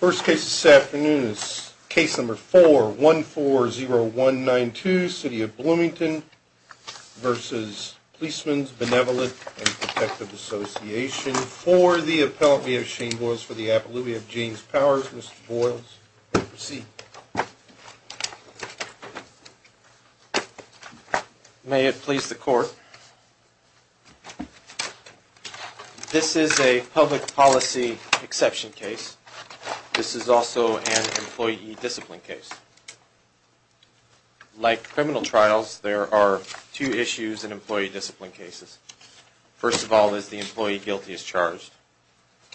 First case this afternoon is case number 4140192, City of Bloomington v. Policemen's Benevolent and Protective Association, for the appellate. We have Shane Boyles for the appellate. We have James Powers. Mr. Boyles, you may proceed. May it please the court. This is a public policy exception case. This is also an employee discipline case. Like criminal trials, there are two issues in employee discipline cases. First of all, is the employee guilty as charged?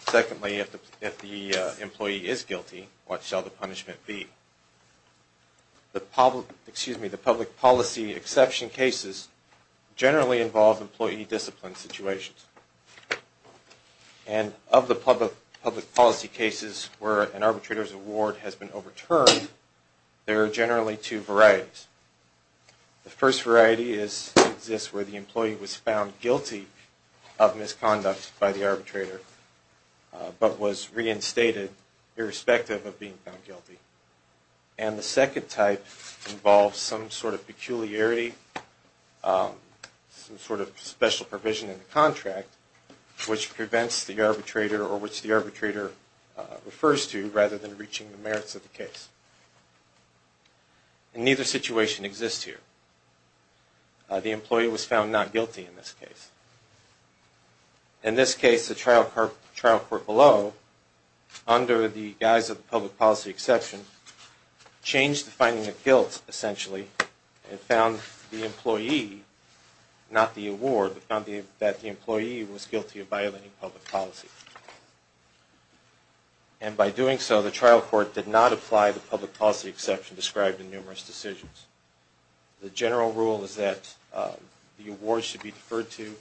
Secondly, if the employee is guilty, what shall the punishment be? The public policy exception cases generally involve employee discipline situations. And of the public policy cases where an arbitrator's award has been overturned, there are generally two varieties. The first variety exists where the employee was found guilty of misconduct by the arbitrator, but was reinstated irrespective of being found guilty. And the second type involves some sort of peculiarity, some sort of special provision in the contract, which prevents the arbitrator or which the arbitrator refers to, rather than reaching the merits of the case. And neither situation exists here. The employee was found not guilty in this case. In this case, the trial court below, under the guise of the public policy exception, changed the finding of guilt, essentially, and found the employee, not the award, but found that the employee was guilty of violating public policy. And by doing so, the trial court did not apply the public policy exception described in numerous decisions. The general rule is that the award should be deferred to,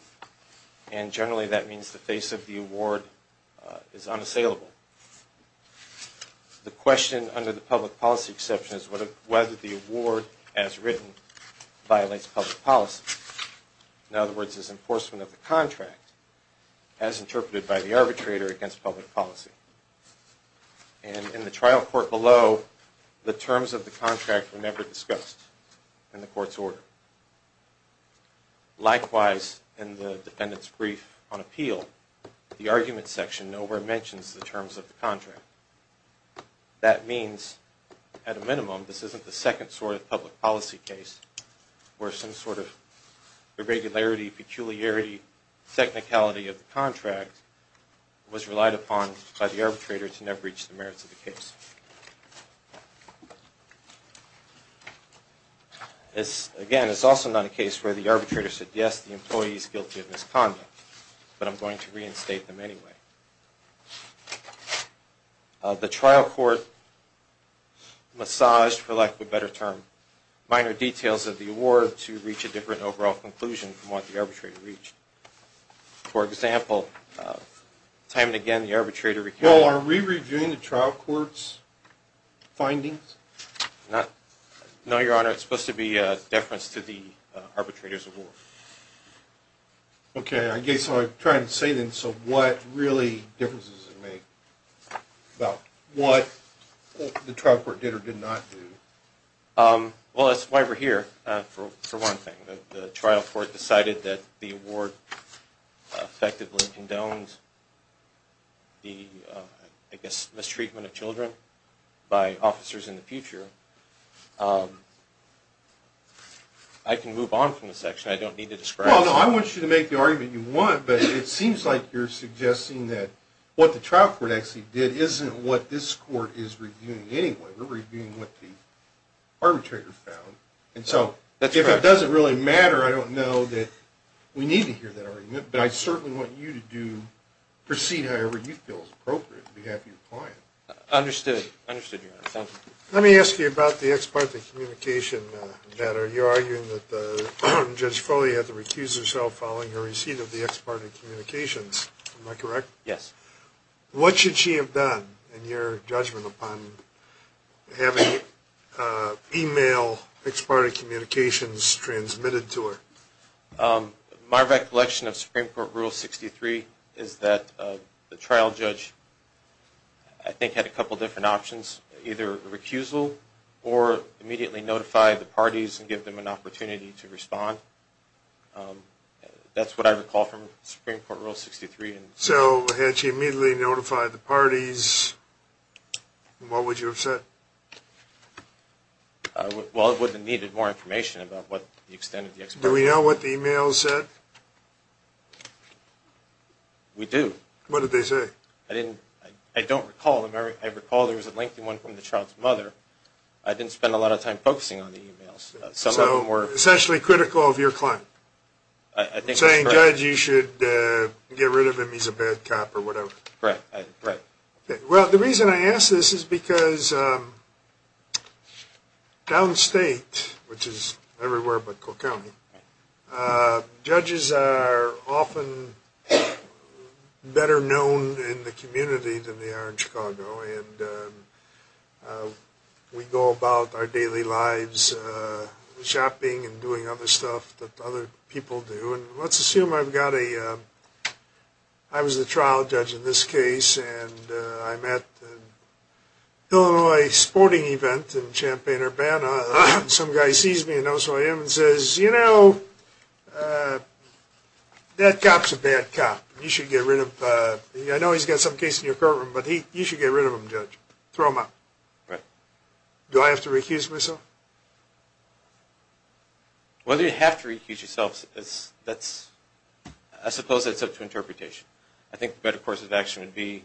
and generally that means the face of the award is unassailable. The question under the public policy exception is whether the award, as written, violates public policy. In other words, is enforcement of the contract as interpreted by the arbitrator against public policy? And in the trial court below, the terms of the contract were never discussed in the court's order. Likewise, in the defendant's brief on appeal, the argument section nowhere mentions the terms of the contract. That means, at a minimum, this isn't the second sort of public policy case where some sort of irregularity, peculiarity, technicality of the contract was relied upon by the arbitrator to never reach the merits of the case. Again, it's also not a case where the arbitrator said, yes, the employee is guilty of misconduct, but I'm going to reinstate them anyway. The trial court massaged, for lack of a better term, minor details of the award to reach a different overall conclusion from what the arbitrator reached. For example, time and again, the arbitrator… Well, are we reviewing the trial court's findings? No, Your Honor. It's supposed to be a deference to the arbitrator's award. Okay. I guess what I'm trying to say then, so what really difference does it make about what the trial court did or did not do? Well, that's why we're here, for one thing. The trial court decided that the award effectively condoned the, I guess, mistreatment of children by officers in the future. I can move on from this section. I don't need to describe… Well, no, I want you to make the argument you want, but it seems like you're suggesting that what the trial court actually did isn't what this court is reviewing anyway. We're reviewing what the arbitrator found, and so if it doesn't really matter, I don't know that we need to hear that argument. But I certainly want you to proceed however you feel is appropriate on behalf of your client. Understood. Understood, Your Honor. Thank you. Let me ask you about the ex parte communication matter. You're arguing that Judge Foley had to recuse herself following her receipt of the ex parte communications. Am I correct? Yes. What should she have done in your judgment upon having email ex parte communications transmitted to her? My recollection of Supreme Court Rule 63 is that the trial judge, I think, had a couple different options, either recusal or immediately notify the parties and give them an opportunity to respond. That's what I recall from Supreme Court Rule 63. So had she immediately notified the parties, what would you have said? Well, it would have needed more information about the extent of the ex parte. Do we know what the email said? We do. What did they say? I don't recall. I recall there was a lengthy one from the child's mother. I didn't spend a lot of time focusing on the emails. So essentially critical of your client. I think that's correct. Saying, Judge, you should get rid of him. He's a bad cop or whatever. Correct. Well, the reason I ask this is because downstate, which is everywhere but Cook County, judges are often better known in the community than they are in Chicago. And we go about our daily lives shopping and doing other stuff that other people do. And let's assume I've got a – I was the trial judge in this case and I'm at an Illinois sporting event in Champaign-Urbana. Some guy sees me and knows who I am and says, you know, that cop's a bad cop. You should get rid of – I know he's got some case in your courtroom, but you should get rid of him, Judge. Throw him out. Right. Do I have to recuse myself? Whether you have to recuse yourself, that's – I suppose that's up to interpretation. I think the better course of action would be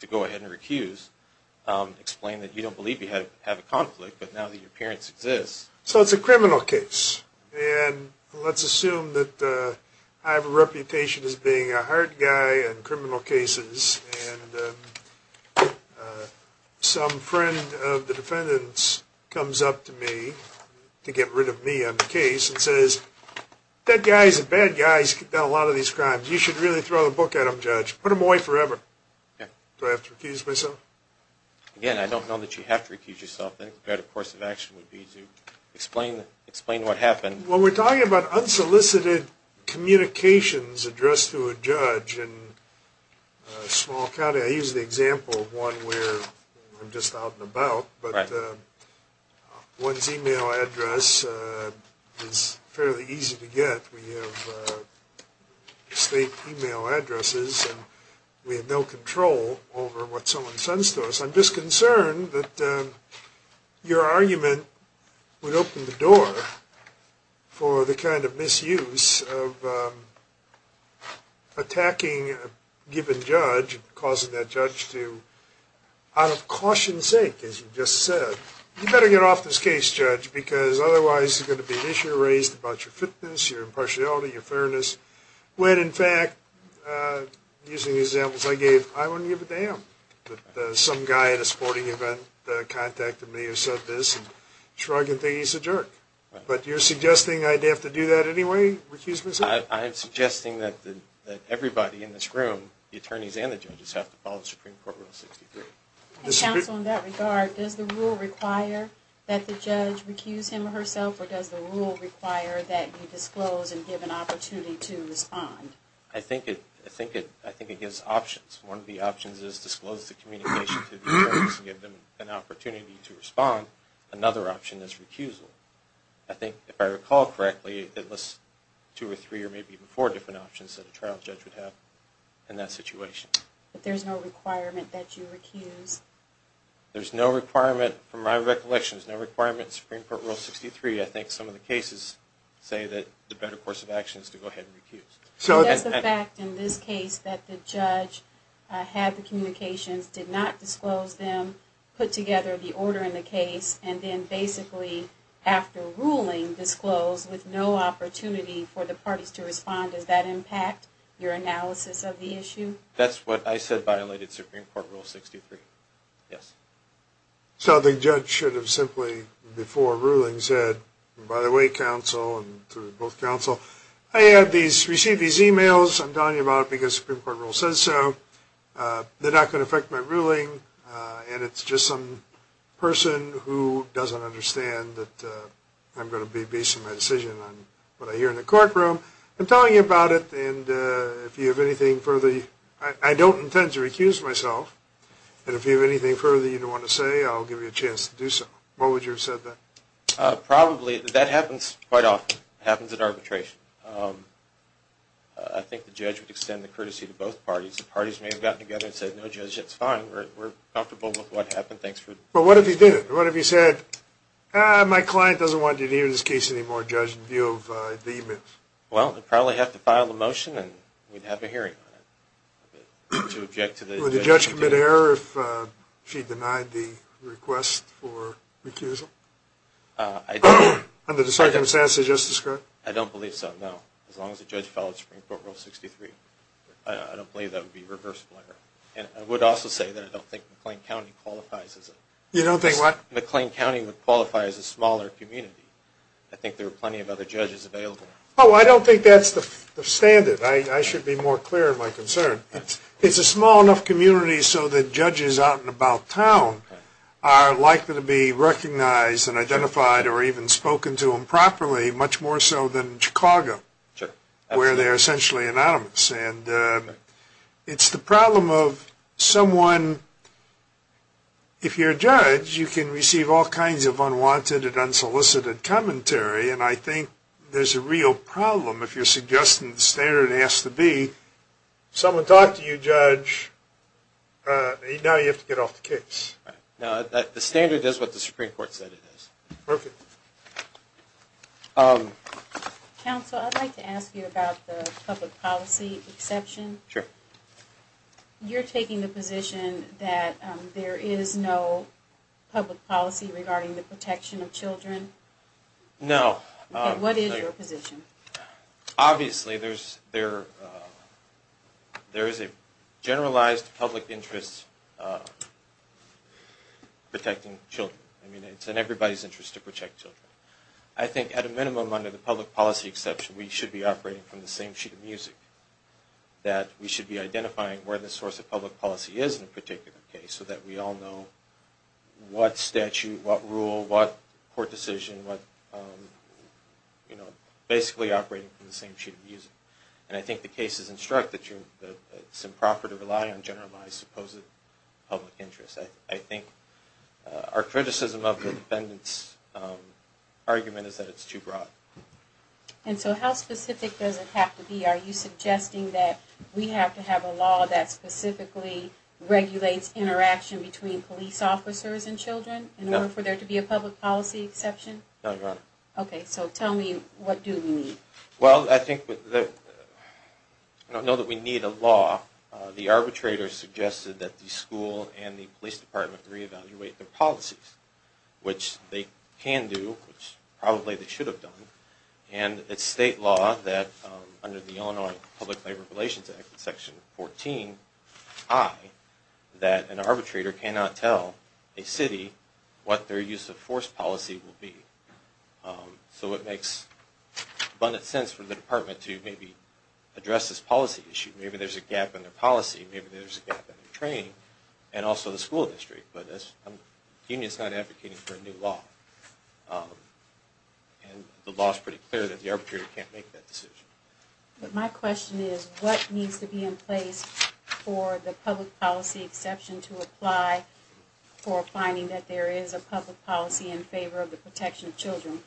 to go ahead and recuse. Explain that you don't believe you have a conflict, but now that your appearance exists. So it's a criminal case. And let's assume that I have a reputation as being a hard guy in criminal cases. And some friend of the defendant's comes up to me to get rid of me on the case and says, that guy's a bad guy. He's done a lot of these crimes. You should really throw the book at him, Judge. Put him away forever. Do I have to recuse myself? Again, I don't know that you have to recuse yourself. The better course of action would be to explain what happened. Well, we're talking about unsolicited communications addressed to a judge in a small county. I use the example of one where I'm just out and about. But one's email address is fairly easy to get. We have state email addresses, and we have no control over what someone sends to us. I'm just concerned that your argument would open the door for the kind of misuse of attacking a given judge, causing that judge to, out of caution's sake, as you just said, you better get off this case, Judge, because otherwise there's going to be an issue raised about your fitness, your impartiality, your fairness. When, in fact, using the examples I gave, I wouldn't give a damn that some guy at a sporting event contacted me and said this. I'm sure I can think he's a jerk. But you're suggesting I'd have to do that anyway, recuse myself? I'm suggesting that everybody in this room, the attorneys and the judges, have to follow Supreme Court Rule 63. And, counsel, in that regard, does the rule require that the judge recuse him or herself, or does the rule require that you disclose and give an opportunity to respond? I think it gives options. One of the options is disclose the communication to the attorneys and give them an opportunity to respond. Another option is recusal. I think, if I recall correctly, it lists two or three or maybe even four different options that a trial judge would have in that situation. But there's no requirement that you recuse? There's no requirement, from my recollection, there's no requirement in Supreme Court Rule 63. I think some of the cases say that the better course of action is to go ahead and recuse. So does the fact in this case that the judge had the communications, did not disclose them, put together the order in the case, and then basically, after ruling, disclosed with no opportunity for the parties to respond, does that impact your analysis of the issue? That's what I said violated Supreme Court Rule 63. Yes. So the judge should have simply, before ruling, said, by the way, counsel, and to both counsel, I received these e-mails, I'm telling you about it because Supreme Court Rule says so, they're not going to affect my ruling, and it's just some person who doesn't understand that I'm going to be basing my decision on what I hear in the courtroom. I'm telling you about it, and if you have anything further, I don't intend to recuse myself, and if you have anything further you don't want to say, I'll give you a chance to do so. Why would you have said that? Probably, that happens quite often. It happens in arbitration. I think the judge would extend the courtesy to both parties. The parties may have gotten together and said, no, Judge, it's fine. We're comfortable with what happened. Well, what if he did it? What if he said, my client doesn't want to be in this case anymore, Judge, in view of the e-mail? Well, he'd probably have to file a motion, and we'd have a hearing on it. Would the judge commit error if she denied the request for recusal? Under the circumstances you just described? I don't believe so, no, as long as the judge followed Supreme Court Rule 63. I don't believe that would be reversible error. I would also say that I don't think McLean County qualifies as a smaller community. I think there are plenty of other judges available. Oh, I don't think that's the standard. I should be more clear in my concern. It's a small enough community so that judges out and about town are likely to be recognized and identified or even spoken to improperly, much more so than Chicago, where they're essentially anonymous. And it's the problem of someone, if you're a judge, you can receive all kinds of unwanted and unsolicited commentary, and I think there's a real problem if you're suggesting the standard has to be, someone talked to you, Judge, now you have to get off the case. Right. The standard is what the Supreme Court said it is. Perfect. Counsel, I'd like to ask you about the public policy exception. Sure. You're taking the position that there is no public policy regarding the protection of children? No. What is your position? Obviously, there is a generalized public interest protecting children. I mean, it's in everybody's interest to protect children. I think at a minimum, under the public policy exception, we should be operating from the same sheet of music, that we should be identifying where the source of public policy is in a particular case so that we all know what statute, what rule, what court decision, what, you know, basically operating from the same sheet of music. And I think the cases instruct that it's improper to rely on generalized supposed public interest. I think our criticism of the defendant's argument is that it's too broad. And so how specific does it have to be? Are you suggesting that we have to have a law that specifically regulates interaction between police officers and children in order for there to be a public policy exception? No, Your Honor. Okay. So tell me, what do we need? Well, I think, I know that we need a law. The arbitrator suggested that the school and the police department reevaluate their policies, which they can do, which probably they should have done. And it's state law that under the Illinois Public Labor Relations Act, Section 14i, that an arbitrator cannot tell a city what their use of force policy will be. So it makes abundant sense for the department to maybe address this policy issue. Maybe there's a gap in their policy, maybe there's a gap in their training, and also the school district. But the union's not advocating for a new law. And the law's pretty clear that the arbitrator can't make that decision. But my question is, what needs to be in place for the public policy exception to apply for finding that there is a public policy in favor of the protection of children?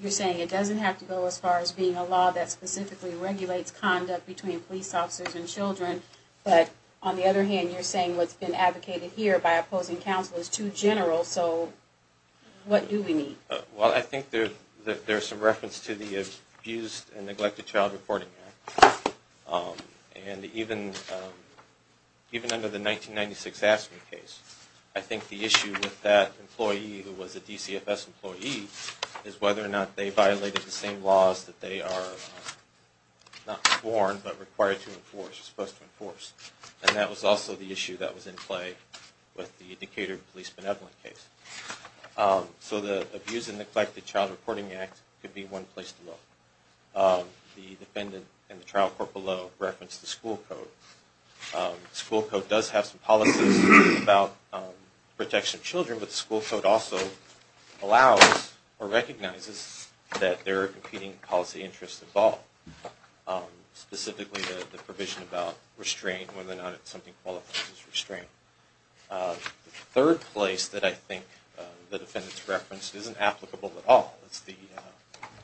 You're saying it doesn't have to go as far as being a law that specifically regulates conduct between police officers and children. But on the other hand, you're saying what's been advocated here by opposing counsel is too general. So what do we need? Well, I think there's some reference to the Abused and Neglected Child Reporting Act. And even under the 1996 Aspen case, I think the issue with that employee who was a DCFS employee is whether or not they violated the same laws that they are not sworn but required to enforce, supposed to enforce. And that was also the issue that was in play with the Decatur police benevolent case. So the Abused and Neglected Child Reporting Act could be one place to look. The defendant in the trial court below referenced the school code. The issue with the school code also allows or recognizes that there are competing policy interests involved. Specifically, the provision about restraint, whether or not something qualifies as restraint. The third place that I think the defendants referenced isn't applicable at all. It's the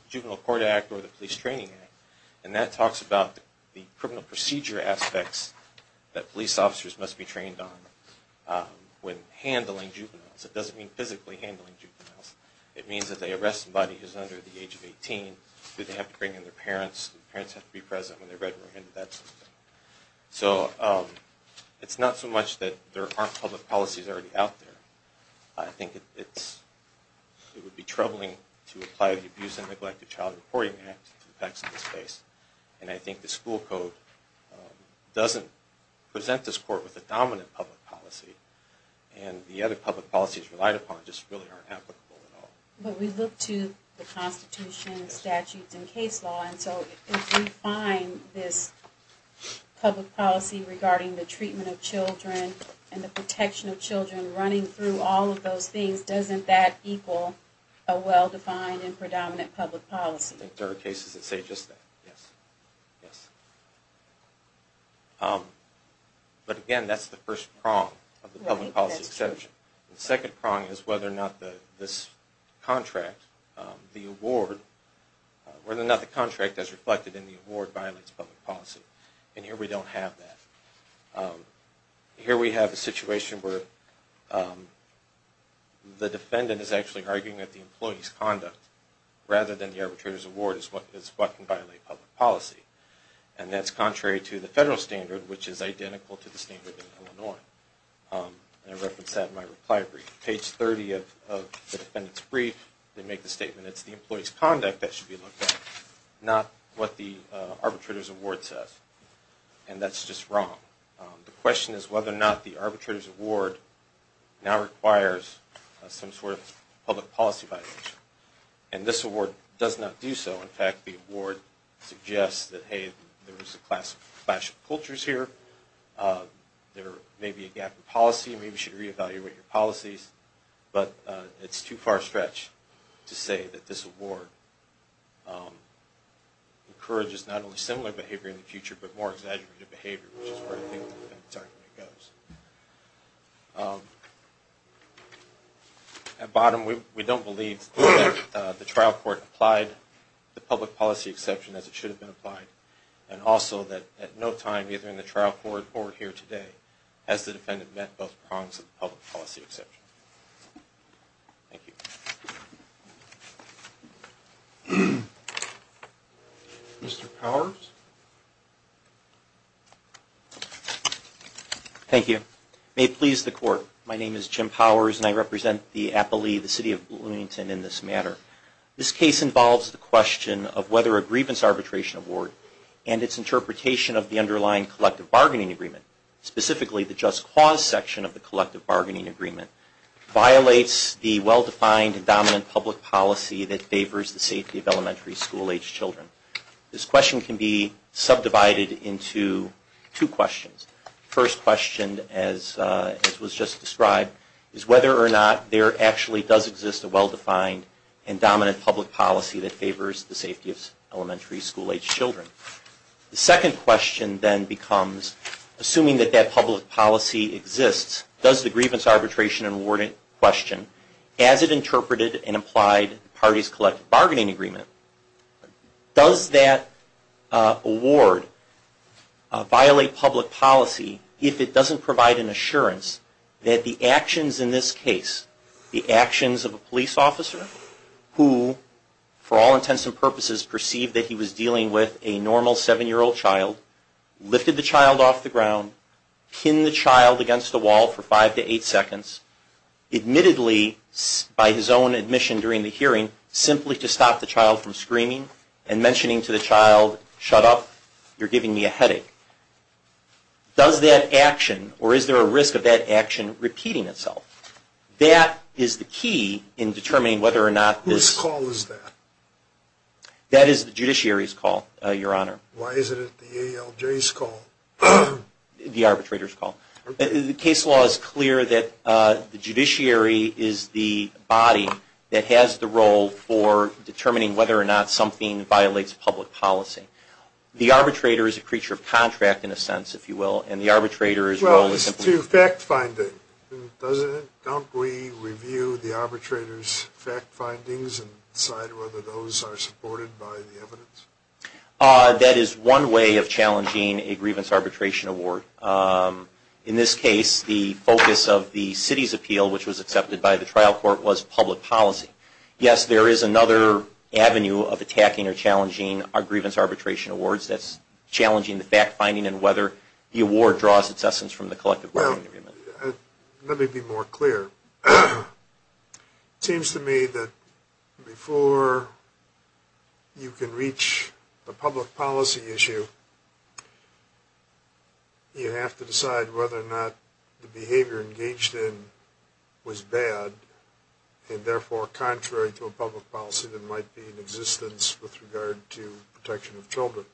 Juvenile Court Act or the Police Training Act. And that talks about the criminal procedure aspects that police officers must be trained on when handling juveniles. It doesn't mean physically handling juveniles. It means that they arrest somebody who's under the age of 18. Do they have to bring in their parents? Do the parents have to be present when they're readmitted into that system? So it's not so much that there aren't public policies already out there. I think it would be troubling to apply the Abused and Neglected Child Reporting Act to the effects of this case. And I think the school code doesn't present this court with a dominant public policy. And the other public policies relied upon just really aren't applicable at all. But we look to the Constitution, statutes, and case law. And so if we find this public policy regarding the treatment of children and the protection of children running through all of those things, doesn't that equal a well-defined and predominant public policy? I think there are cases that say just that, yes. But again, that's the first prong of the public policy exception. The second prong is whether or not the contract as reflected in the award violates public policy. And here we don't have that. Here we have a situation where the defendant is actually arguing that the employee's conduct, rather than the arbitrator's award, is what can violate public policy. And that's contrary to the federal standard, which is identical to the standard in Illinois. And I referenced that in my reply brief. Page 30 of the defendant's brief, they make the statement, it's the employee's conduct that should be looked at, not what the arbitrator's award says. And that's just wrong. The question is whether or not the arbitrator's award now requires some sort of public policy violation. And this award does not do so. In fact, the award suggests that, hey, there is a clash of cultures here. There may be a gap in policy. Maybe you should reevaluate your policies. But it's too far-stretched to say that this award encourages not only similar behavior in the future, but more exaggerated behavior, which is where I think the defendant's argument goes. At bottom, we don't believe that the trial court applied the public policy exception as it should have been applied, and also that at no time, either in the trial court or here today, has the defendant met both prongs of the public policy exception. Thank you. Mr. Powers? Thank you. May it please the Court, my name is Jim Powers, and I represent the appellee, the City of Bloomington, in this matter. This case involves the question of whether a grievance arbitration award and its interpretation of the underlying collective bargaining agreement, specifically the just cause section of the collective bargaining agreement, violates the well-defined dominant public policy that favors the safety of elementary school age children. This question can be subdivided into two questions. The first question, as was just described, is whether or not there actually does exist a well-defined and dominant public policy that favors the safety of elementary school age children. The second question then becomes, assuming that that public policy exists, does the grievance arbitration awarding question, as it interpreted and applied the parties' collective bargaining agreement, does that award violate public policy if it doesn't provide an assurance that the actions in this case, the actions of a police officer who, for all intents and purposes, perceived that he was dealing with a normal seven-year-old child, lifted the child off the ground, pinned the child against the wall for five to eight seconds, admittedly, by his own admission during the hearing, simply to stop the child from screaming and mentioning to the child, shut up, you're giving me a headache. Does that action, or is there a risk of that action repeating itself? That is the key in determining whether or not this... Whose call is that? That is the judiciary's call, Your Honor. Why isn't it the ALJ's call? The arbitrator's call. The case law is clear that the judiciary is the body that has the role for determining whether or not something violates public policy. The arbitrator is a creature of contract, in a sense, if you will, and the arbitrator's role is simply... Well, it's a fact finding, isn't it? Don't we review the arbitrator's fact findings and decide whether those are supported by the evidence? That is one way of challenging a grievance arbitration award. In this case, the focus of the city's appeal, which was accepted by the trial court, was public policy. Yes, there is another avenue of attacking or challenging our grievance arbitration awards. That's challenging the fact finding and whether the award draws its essence from the collective bargaining agreement. Well, let me be more clear. It seems to me that before you can reach a public policy issue, you have to decide whether or not the behavior engaged in was bad, and therefore contrary to a public policy that might be in existence with regard to protection of children.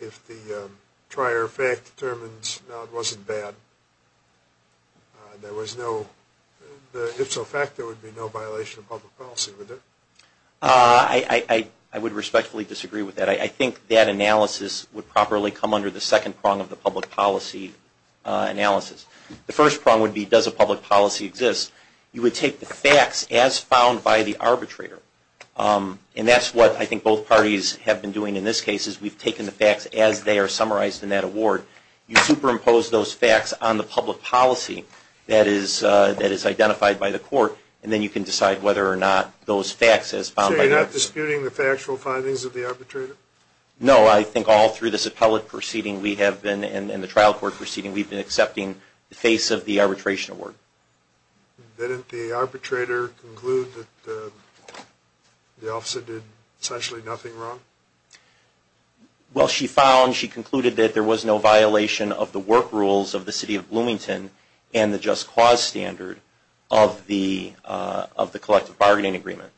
If the prior fact determines, no, it wasn't bad, if so fact, there would be no violation of public policy, would there? I would respectfully disagree with that. I think that analysis would properly come under the second prong of the public policy analysis. The first prong would be, does a public policy exist? You would take the facts as found by the arbitrator, and that's what I think both parties have been doing in this case, is we've taken the facts as they are summarized in that award. You superimpose those facts on the public policy that is identified by the court, and then you can decide whether or not those facts as found by the arbitrator. So you're not disputing the factual findings of the arbitrator? No, I think all through this appellate proceeding we have been, and the trial court proceeding, we've been accepting the face of the arbitration award. Didn't the arbitrator conclude that the officer did essentially nothing wrong? Well, she found, she concluded that there was no violation of the work rules of the City of Bloomington and the just cause standard of the collective bargaining agreement.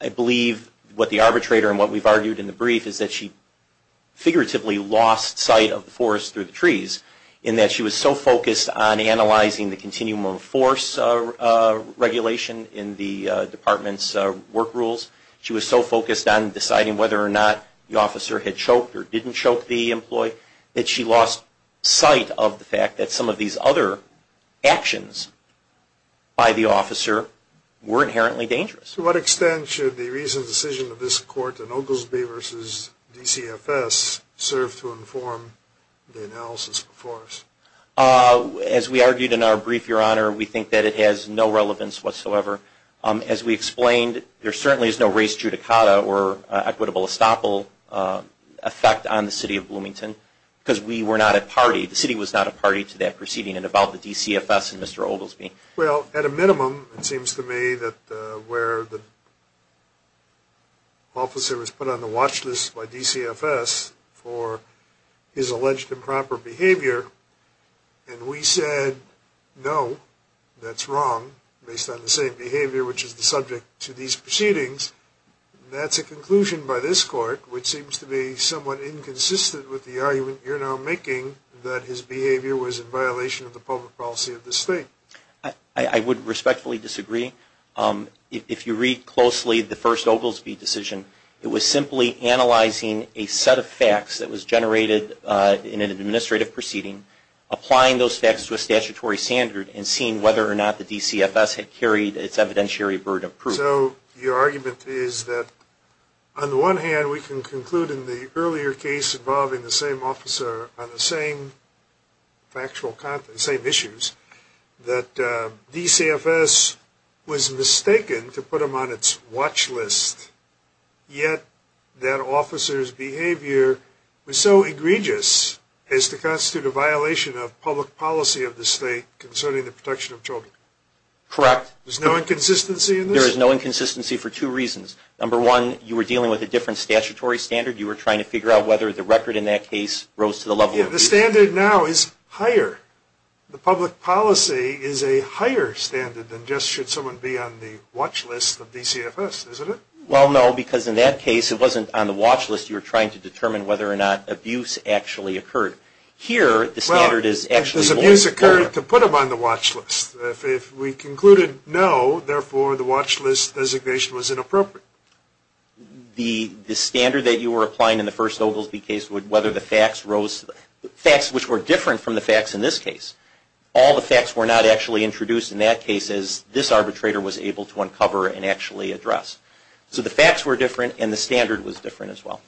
I believe what the arbitrator, and what we've argued in the brief, is that she figuratively lost sight of the forest through the trees, in that she was so focused on analyzing the continuum of force regulation in the department's work rules, she was so focused on deciding whether or not the officer had choked or didn't choke the employee, that she lost sight of the fact that some of these other actions by the officer were inherently dangerous. To what extent should the recent decision of this court in Oglesby v. DCFS serve to inform the analysis before us? As we argued in our brief, Your Honor, we think that it has no relevance whatsoever. As we explained, there certainly is no race judicata or equitable estoppel effect on the City of Bloomington, because we were not a party, the City was not a party to that proceeding and about the DCFS and Mr. Oglesby. Well, at a minimum, it seems to me that where the officer was put on the watch list by DCFS for his alleged improper behavior, and we said, no, that's wrong, based on the same behavior which is the subject to these proceedings, that's a conclusion by this court which seems to be somewhat inconsistent with the argument you're now making that his behavior was in violation of the public policy of the State. I would respectfully disagree. If you read closely the first Oglesby decision, it was simply analyzing a set of facts that was generated in an administrative proceeding, applying those facts to a statutory standard, and seeing whether or not the DCFS had carried its evidentiary burden of proof. So your argument is that, on the one hand, we can conclude in the earlier case involving the same officer on the same factual content, same issues, that DCFS was mistaken to put him on its watch list, yet that officer's behavior was so egregious as to constitute a violation of public policy of the State concerning the protection of children. Correct. There's no inconsistency in this? There is no inconsistency for two reasons. Number one, you were dealing with a different statutory standard. You were trying to figure out whether the record in that case rose to the level of... The standard now is higher. The public policy is a higher standard than just should someone be on the watch list of DCFS, isn't it? Well, no, because in that case it wasn't on the watch list. You were trying to determine whether or not abuse actually occurred. Here, the standard is actually... Well, because abuse occurred to put him on the watch list. If we concluded no, therefore the watch list designation was inappropriate. The standard that you were applying in the first Oglesby case, whether the facts rose... Facts which were different from the facts in this case. All the facts were not actually introduced in that case as this arbitrator was able to uncover and actually address. So the facts were different and the standard was different as well.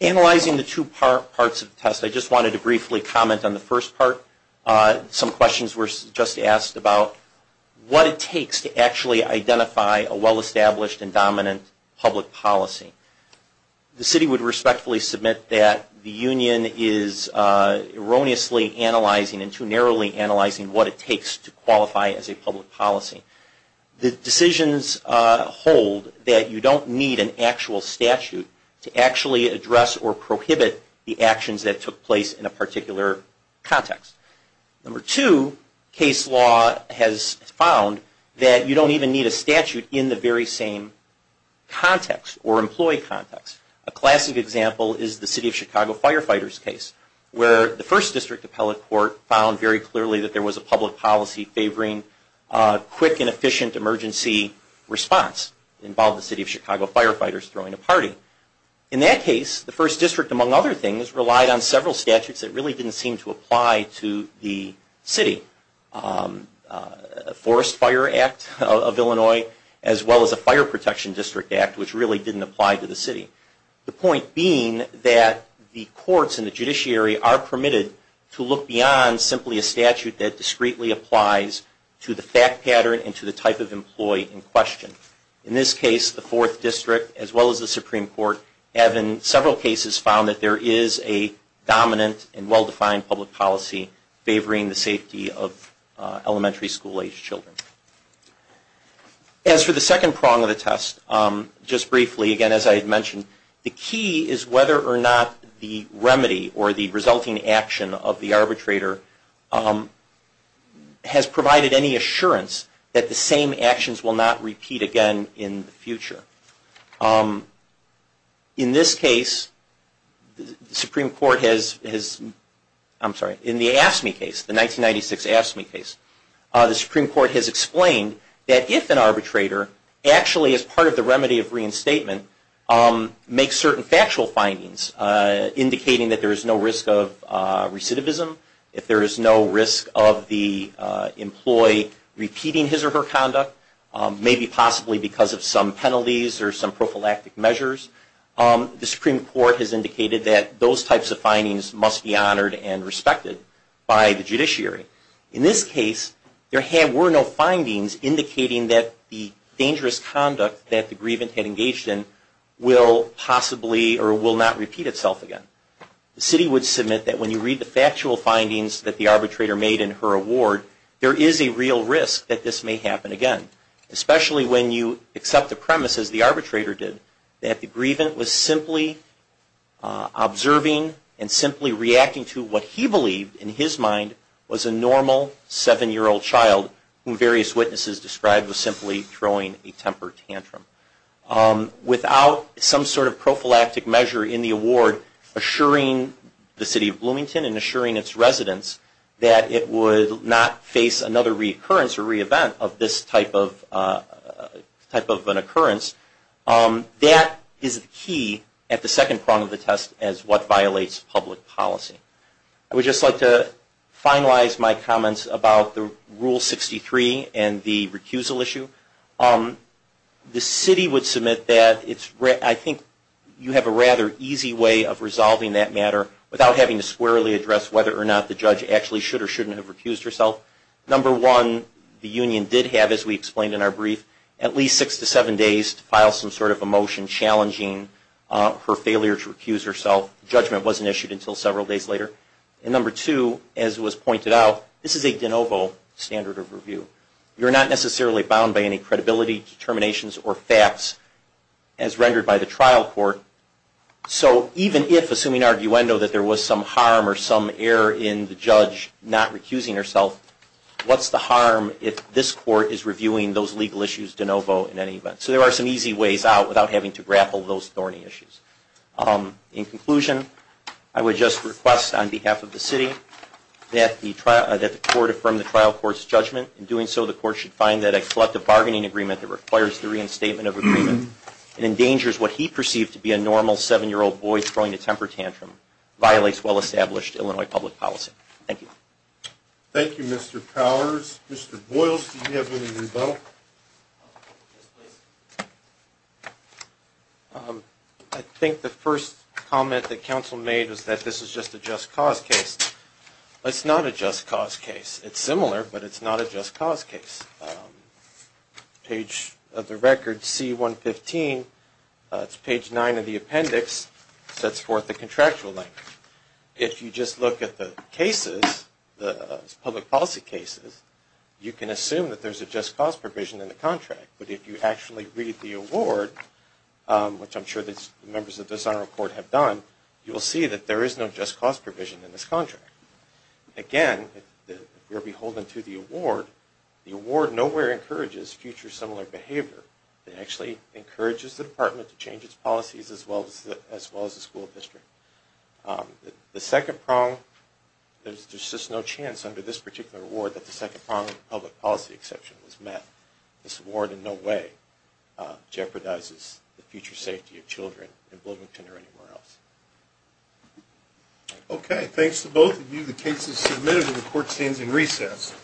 Analyzing the two parts of the test, I just wanted to briefly comment on the first part. Some questions were just asked about what it takes to actually identify a well-established and dominant public policy. The city would respectfully submit that the union is erroneously analyzing and too narrowly analyzing what it takes to qualify as a public policy. The decisions hold that you don't need an actual statute to actually address or prohibit the actions that took place in a particular context. Number two, case law has found that you don't even need a statute in the very same context or employee context. A classic example is the city of Chicago firefighters case where the first district appellate court found very clearly that there was a public policy favoring quick and efficient emergency response. It involved the city of Chicago firefighters throwing a party. In that case, the first district, among other things, relied on several statutes that really didn't seem to apply to the city. The Forest Fire Act of Illinois as well as the Fire Protection District Act, which really didn't apply to the city. The point being that the courts and the judiciary are permitted to look beyond simply a statute that discreetly applies to the fact pattern and to the type of employee in question. In this case, the fourth district as well as the Supreme Court have in several cases found that there is a dominant and well-defined public policy favoring the safety of elementary school age children. As for the second prong of the test, just briefly again as I had mentioned, the key is whether or not the remedy or the resulting action of the arbitrator has provided any assurance that the same actions will not repeat again in the future. In this case, the Supreme Court has, I'm sorry, in the AFSCME case, the 1996 AFSCME case, the Supreme Court has explained that if an arbitrator actually as part of the remedy of reinstatement makes certain factual findings indicating that there is no risk of recidivism, if there is no risk of the employee repeating his or her conduct, maybe possibly because of some penalties or some prophylactic measures, the Supreme Court has indicated that those types of findings must be honored and respected by the judiciary. In this case, there were no findings indicating that the dangerous conduct that the grievant had engaged in will possibly or will not repeat itself again. The city would submit that when you read the factual findings that the arbitrator made in her award, there is a real risk that this may happen again, especially when you accept the premise, as the arbitrator did, that the grievant was simply observing and simply reacting to what he believed in his mind was a normal seven-year-old child whom various witnesses described as simply throwing a temper tantrum. Without some sort of prophylactic measure in the award assuring the city of Bloomington and assuring its residents that it would not face another reoccurrence or re-event of this type of an occurrence, that is the key at the second prong of the test as what violates public policy. I would just like to finalize my comments about the Rule 63 and the recusal issue. The city would submit that I think you have a rather easy way of resolving that matter without having to squarely address whether or not the judge actually should or shouldn't have recused herself. Number one, the union did have, as we explained in our brief, at least six to seven days to file some sort of a motion challenging her failure to And number two, as was pointed out, this is a de novo standard of review. You're not necessarily bound by any credibility, determinations, or facts as rendered by the trial court. So even if, assuming arguendo, that there was some harm or some error in the judge not recusing herself, what's the harm if this court is reviewing those legal issues de novo in any event? So there are some easy ways out without having to grapple those thorny issues. In conclusion, I would just request on behalf of the city that the court affirm the trial court's judgment. In doing so, the court should find that a collective bargaining agreement that requires the reinstatement of agreement and endangers what he perceived to be a normal seven-year-old boy throwing a temper tantrum violates well-established Illinois public policy. Thank you. Thank you, Mr. Powers. Mr. Boyles, do you have any rebuttal? I think the first comment that counsel made is that this is just a just cause case. It's not a just cause case. It's similar, but it's not a just cause case. Page of the record, C-115, it's page 9 of the appendix, sets forth the contractual language. If you just look at the cases, the public policy cases, you can assume that there's a just cause provision in the contract. But if you actually read the award, which I'm sure the members of the the award nowhere encourages future similar behavior. It actually encourages the department to change its policies as well as the school district. The second prong, there's just no chance under this particular award that the second prong of the public policy exception was met. This award in no way jeopardizes the future safety of children in Bloomington or anywhere else. Okay. Thanks to both of you. The case is submitted and the court stands in recess.